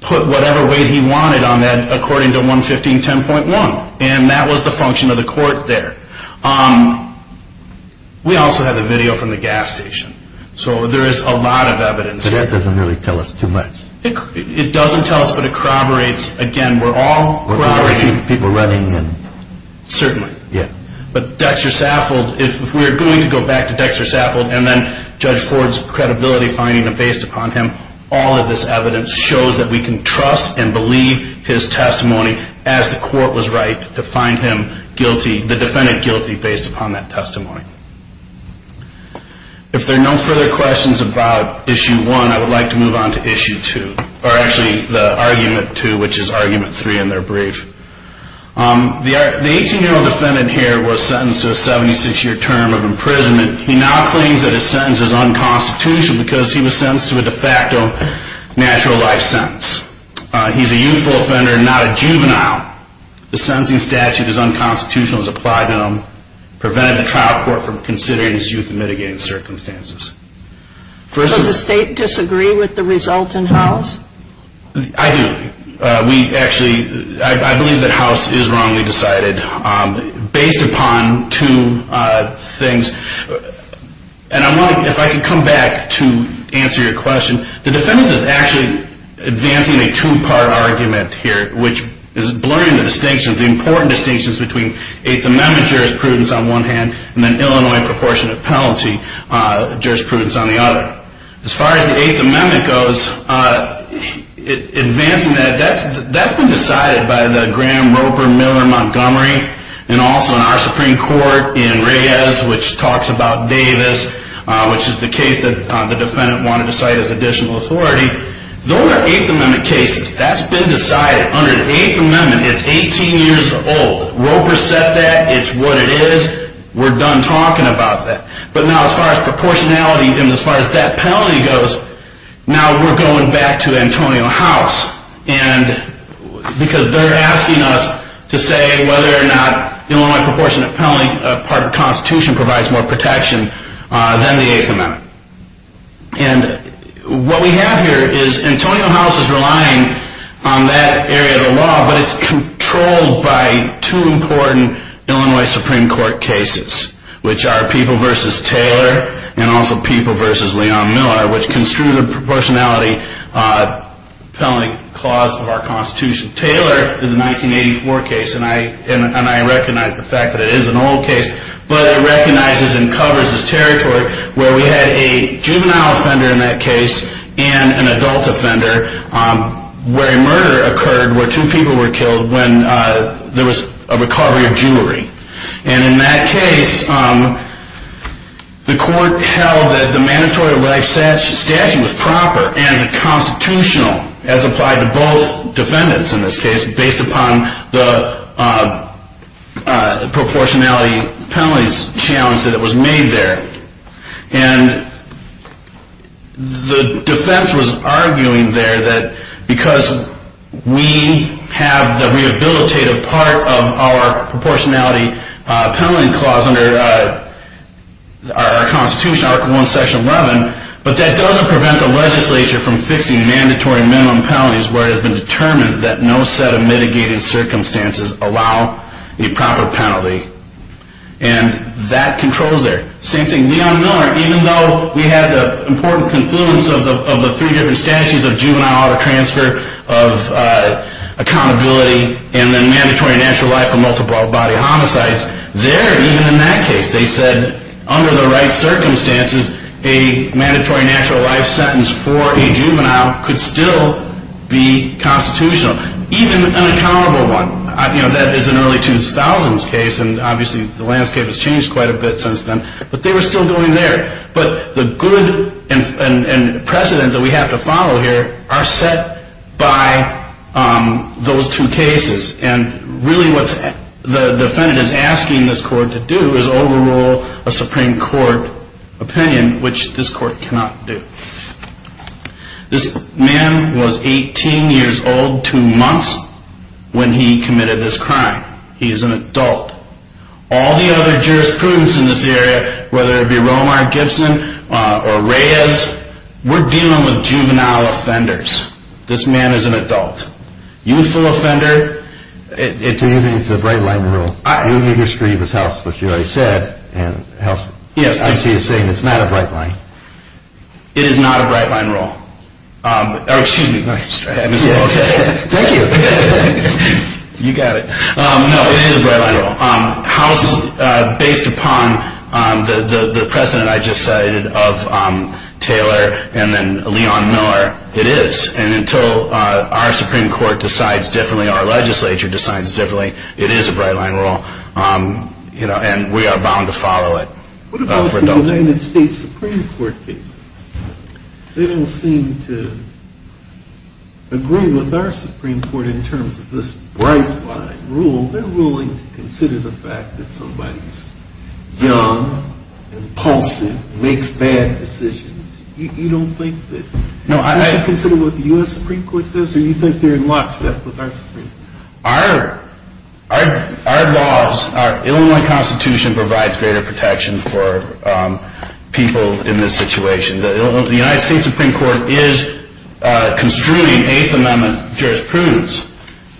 put whatever weight he wanted on that according to 11510.1. And that was the function of the court there. We also have the video from the gas station. So there is a lot of evidence. It doesn't really tell us too much. It doesn't tell us, but it corroborates. Again, we're all corroborating. People running and... Certainly. Yeah. But Dexter Saffold, if we're going to go back to Dexter Saffold and then Judge Ford's credibility finding based upon him, all of this evidence shows that we can trust and believe his testimony as the court was right to find him guilty, the defendant guilty, based upon that testimony. If there are no further questions about Issue 1, I would like to move on to Issue 2, or actually the Argument 2, which is Argument 3 in their brief. The 18-year-old defendant here was sentenced to a 76-year term of imprisonment. He now claims that his sentence is unconstitutional because he was sentenced to a de facto natural life sentence. He's a youthful offender, not a juvenile. The sentencing statute is unconstitutional as applied to him, preventing the trial court from considering his youth in mitigating circumstances. Does the state disagree with the result in House? I do. We actually, I believe that House is wrongly decided based upon two things. And if I could come back to answer your question. The defendant is actually advancing a two-part argument here, which is blurring the distinction, the important distinctions between Eighth Amendment jurisprudence on one hand and an Illinois proportionate penalty jurisprudence on the other. As far as the Eighth Amendment goes, advancing that, that's been decided by the Graham, Roper, Miller, Montgomery, and also in our Supreme Court in Reyes, which talks about Davis, which is the case that the defendant wanted to cite as additional authority. Those are Eighth Amendment cases. That's been decided under the Eighth Amendment. It's 18 years old. Roper said that. It's what it is. We're done talking about that. But now as far as proportionality and as far as that penalty goes, now we're going back to Antonio House. And because they're asking us to say whether or not the Illinois proportionate penalty part of the Constitution provides more protection than the Eighth Amendment. And what we have here is Antonio House is relying on that area of the law, but it's controlled by two important Illinois Supreme Court cases, which are People v. Taylor and also People v. Leon Miller, which construe the proportionality penalty clause of our Constitution. Taylor is a 1984 case, and I recognize the fact that it is an old case, but it recognizes and covers this territory where we had a juvenile offender in that case and an adult offender where a murder occurred where two people were killed when there was a recovery of jewelry. And in that case, the court held that the mandatory life statute was proper as a constitutional, as applied to both defendants in this case, based upon the proportionality penalties challenge that was made there. And the defense was arguing there that because we have the rehabilitative part of our proportionality penalty clause under our Constitution, Article I, Section 11, but that doesn't prevent the legislature from fixing mandatory minimum penalties where it has been determined that no set of mitigated circumstances allow a proper penalty. And that controls there. Same thing, Leon Miller, even though we have the important confluence of the three different statutes of juvenile auto transfer, of accountability, and then mandatory natural life for multiple body homicides, there, even in that case, they said under the right circumstances, a mandatory natural life sentence for a juvenile could still be constitutional, even an accountable one. That is an early 2000s case, and obviously the landscape has changed quite a bit since then. But they were still going there. But the good precedent that we have to follow here are set by those two cases. And really what the defendant is asking this court to do is overrule a Supreme Court opinion, which this court cannot do. This man was 18 years old, two months, when he committed this crime. He is an adult. All the other jurisprudence in this area, whether it be Romar, Gibson, or Reyes, we're dealing with juvenile offenders. This man is an adult. Youthful offender. So you think it's a bright-line rule? You agree with House, which you already said, and House obviously is saying it's not a bright line. It is not a bright-line rule. Excuse me. Thank you. You got it. No, it is a bright-line rule. House, based upon the precedent I just cited of Taylor and then Leon Miller, it is. And until our Supreme Court decides differently, our legislature decides differently, it is a bright-line rule. And we are bound to follow it. What about the United States Supreme Court cases? They don't seem to agree with our Supreme Court in terms of this bright-line rule. They're willing to consider the fact that somebody's young and impulsive, makes bad decisions. You don't think that they should consider what the U.S. Supreme Court says? Or do you think they're in lockstep with our Supreme Court? Our laws, our Illinois Constitution provides greater protection for people in this situation. The United States Supreme Court is construing Eighth Amendment jurisprudence.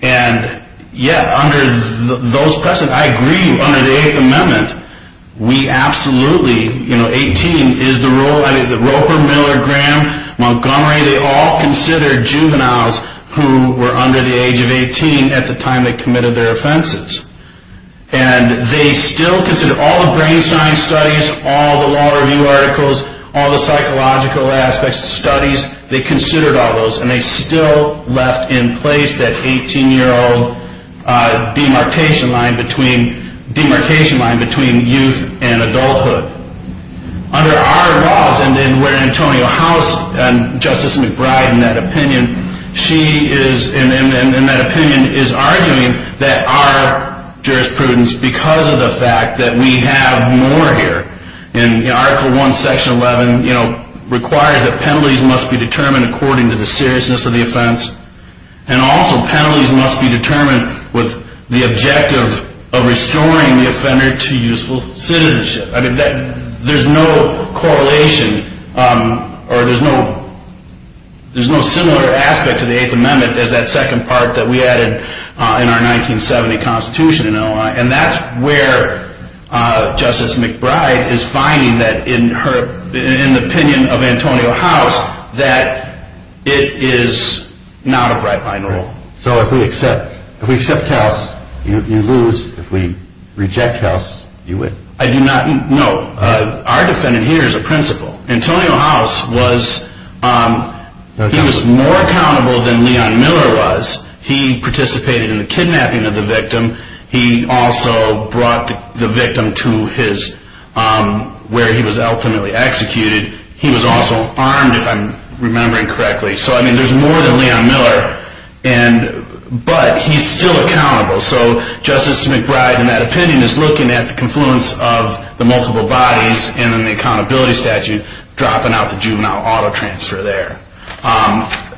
And yet, under those precedents, I agree, under the Eighth Amendment, we absolutely, you know, 18 is the rule. I mean, Roper, Miller, Graham, Montgomery, they all considered juveniles who were under the age of 18 at the time they committed their offenses. And they still consider all the brain science studies, all the law review articles, all the psychological aspects of studies, they considered all those. And they still left in place that 18-year-old demarcation line between youth and adulthood. Under our laws, and where Antonio House and Justice McBride, in that opinion, she is, in that opinion, is arguing that our jurisprudence, because of the fact that we have more here, in Article I, Section 11, requires that penalties must be determined according to the seriousness of the offense. And also penalties must be determined with the objective of restoring the offender to youthful citizenship. I mean, there's no correlation, or there's no similar aspect to the Eighth Amendment as that second part that we added in our 1970 Constitution in Illinois. And that's where Justice McBride is finding that in her, in the opinion of Antonio House, that it is not a right-line rule. So if we accept, if we accept House, you lose. If we reject House, you win. I do not, no. Our defendant here is a principal. Antonio House was, he was more accountable than Leon Miller was. He participated in the kidnapping of the victim. He also brought the victim to his, where he was ultimately executed. He was also armed, if I'm remembering correctly. So, I mean, there's more than Leon Miller. And, but he's still accountable. So Justice McBride, in that opinion, is looking at the confluence of the multiple bodies and then the accountability statute, dropping out the juvenile auto transfer there.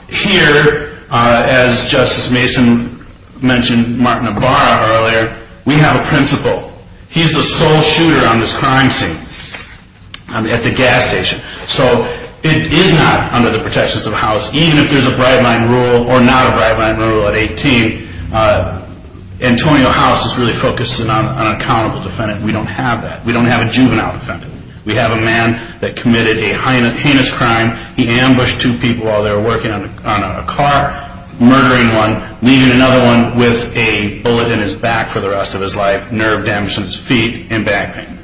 Here, as Justice Mason mentioned Martin Ibarra earlier, we have a principal. He's the sole shooter on this crime scene at the gas station. So it is not under the protections of House, even if there's a right-line rule or not a right-line rule at 18. Antonio House is really focused on an accountable defendant. We don't have that. We don't have a juvenile defendant. We have a man that committed a heinous crime. He ambushed two people while they were working on a car, murdering one, leaving another one with a bullet in his back for the rest of his life. Nerve damage to his feet and back pain.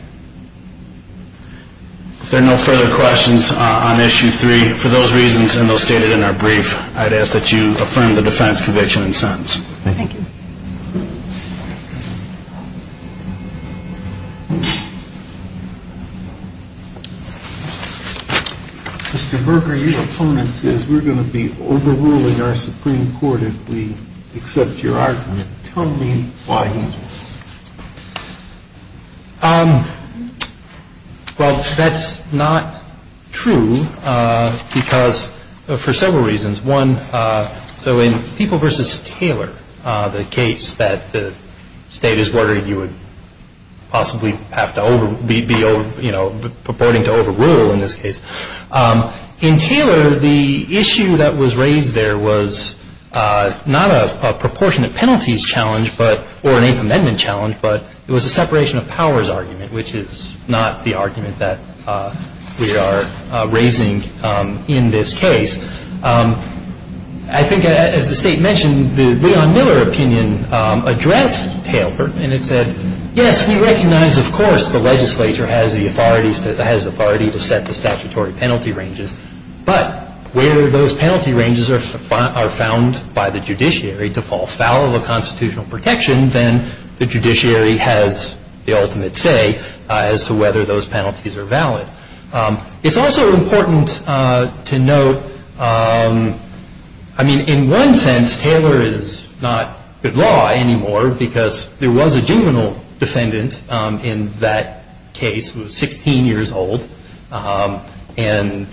If there are no further questions on Issue 3, for those reasons and those stated in our brief, I'd ask that you affirm the defense conviction and sentence. Thank you. Mr. Berger, your opponent says we're going to be overruling our Supreme Court if we accept your argument. Tell me why he's wrong. Well, that's not true because for several reasons. One, so in People v. Taylor, the case that the State is ordering you would possibly have to be overruled, you know, purporting to overrule in this case. In Taylor, the issue that was raised there was not a proportionate penalties challenge or an Eighth Amendment challenge, but it was a separation of powers argument, which is not the argument that we are raising in this case. I think, as the State mentioned, the Leon Miller opinion addressed Taylor, and it said, Yes, we recognize, of course, the legislature has the authority to set the statutory penalty ranges, but where those penalty ranges are found by the judiciary to fall foul of a constitutional protection, then the judiciary has the ultimate say as to whether those penalties are valid. It's also important to note, I mean, in one sense, Taylor is not good law anymore because there was a juvenile defendant in that case who was 16 years old, and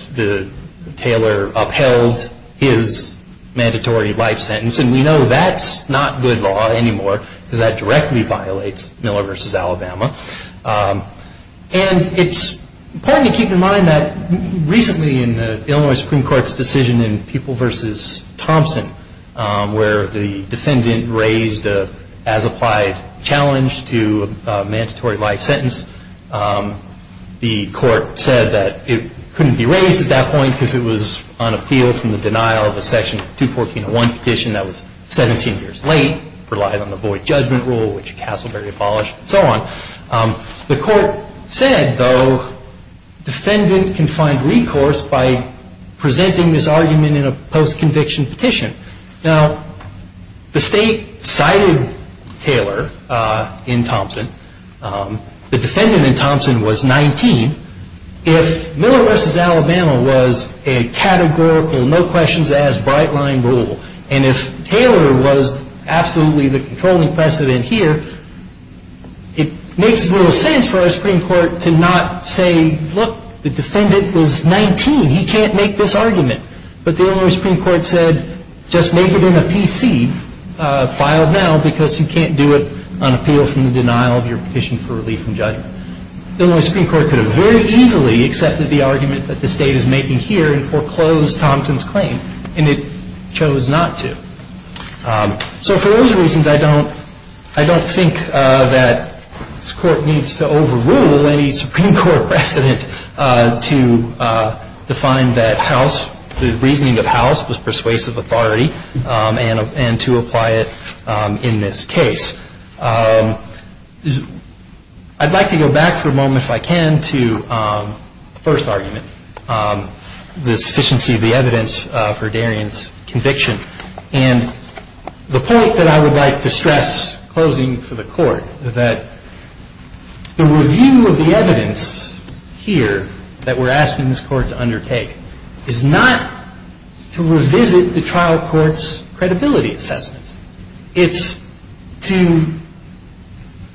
Taylor upheld his mandatory life sentence, and we know that's not good law anymore because that directly violates Miller v. Alabama. And it's important to keep in mind that recently in the Illinois Supreme Court's decision in People v. Thompson where the defendant raised a as-applied challenge to a mandatory life sentence, the Court said that it couldn't be raised at that point because it was on appeal from the denial of a Section 214.1 petition that was 17 years late, relied on the void judgment rule, which Castleberry abolished, and so on. The Court said, though, defendant can find recourse by presenting this argument in a post-conviction petition. Now, the State cited Taylor in Thompson. The defendant in Thompson was 19. If Miller v. Alabama was a categorical, no-questions-asked, bright-line rule, and if Taylor was absolutely the controlling precedent here, it makes little sense for our Supreme Court to not say, look, the defendant was 19. He can't make this argument. But the Illinois Supreme Court said, just make it in a PC, filed now, because you can't do it on appeal from the denial of your petition for relief from judgment. Illinois Supreme Court could have very easily accepted the argument that the State is making here and foreclosed Thompson's claim, and it chose not to. So for those reasons, I don't think that this Court needs to overrule any Supreme Court precedent to define that the reasoning of House was persuasive authority and to apply it in this case. I'd like to go back for a moment, if I can, to the first argument, the sufficiency of the evidence for Darian's conviction. And the point that I would like to stress, closing for the Court, that the review of the evidence here that we're asking this Court to undertake is not to revisit the trial court's credibility assessments. It's to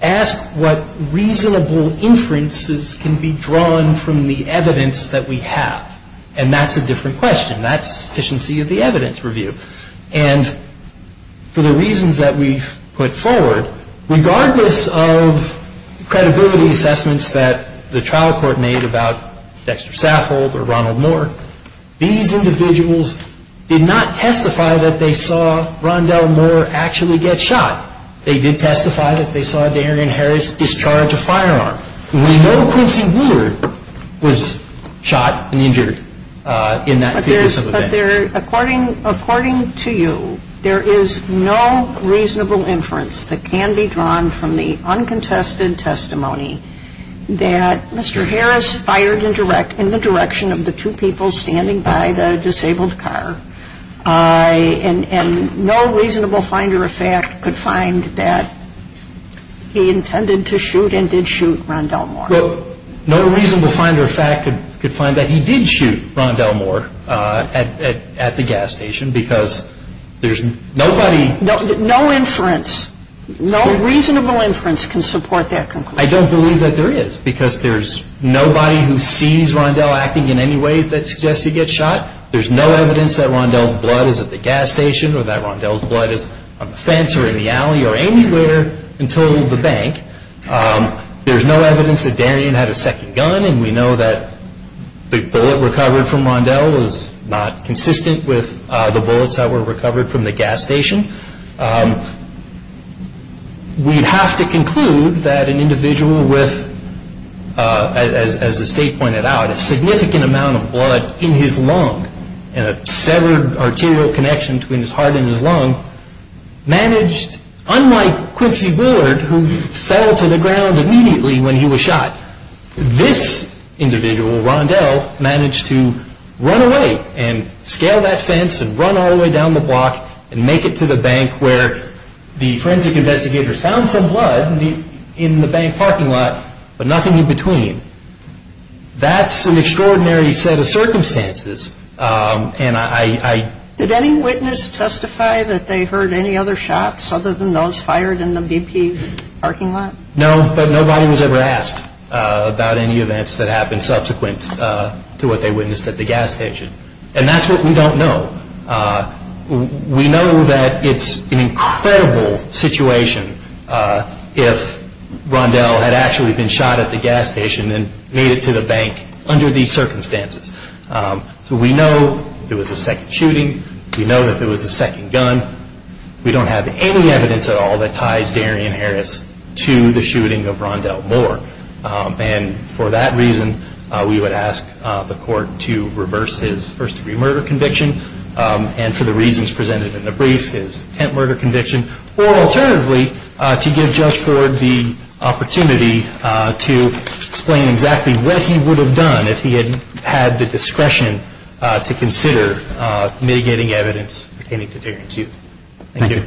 ask what reasonable inferences can be drawn from the evidence that we have. And that's a different question. That's sufficiency of the evidence review. And for the reasons that we've put forward, regardless of credibility assessments that the trial court made about Dexter Saffold or Ronald Moore, these individuals did not testify that they saw Rondell Moore actually get shot. They did testify that they saw Darian Harris discharge a firearm. We know Quincy Woodard was shot and injured in that series of events. But there's – but there – according to you, there is no reasonable inference that can be drawn from the uncontested testimony that Mr. Harris fired in the direction of the two people standing by the disabled car. And no reasonable finder of fact could find that he intended to shoot and did shoot Rondell Moore. Well, no reasonable finder of fact could find that he did shoot Rondell Moore at the gas station because there's nobody – No inference. No reasonable inference can support that conclusion. I don't believe that there is because there's nobody who sees Rondell acting in any way that suggests he gets shot. There's no evidence that Rondell's blood is at the gas station or that Rondell's blood is on the fence or in the alley or anywhere until the bank. There's no evidence that Darian had a second gun, and we know that the bullet recovered from Rondell was not consistent with the bullets that were recovered from the gas station. We have to conclude that an individual with, as the State pointed out, a significant amount of blood in his lung and a severed arterial connection between his heart and his lung managed, unlike Quincy Bullard, who fell to the ground immediately when he was shot, this individual, Rondell, managed to run away and scale that fence and run all the way down the block and make it to the bank where the forensic investigators found some blood in the bank parking lot but nothing in between. That's an extraordinary set of circumstances. Did any witness testify that they heard any other shots other than those fired in the BP parking lot? No, but nobody was ever asked about any events that happened subsequent to what they witnessed at the gas station. And that's what we don't know. We know that it's an incredible situation if Rondell had actually been shot at the gas station and made it to the bank under these circumstances. So we know there was a second shooting. We know that there was a second gun. We don't have any evidence at all that ties Darian Harris to the shooting of Rondell Moore. And for that reason, we would ask the court to reverse his first-degree murder conviction and for the reasons presented in the brief, his attempt murder conviction, or alternatively, to give Judge Ford the opportunity to explain exactly what he would have done if he had had the discretion to consider mitigating evidence pertaining to Darian too. Thank you.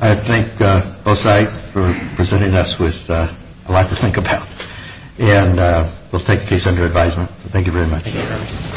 I thank both sides for presenting us with a lot to think about. And we'll take case under advisement. Thank you very much.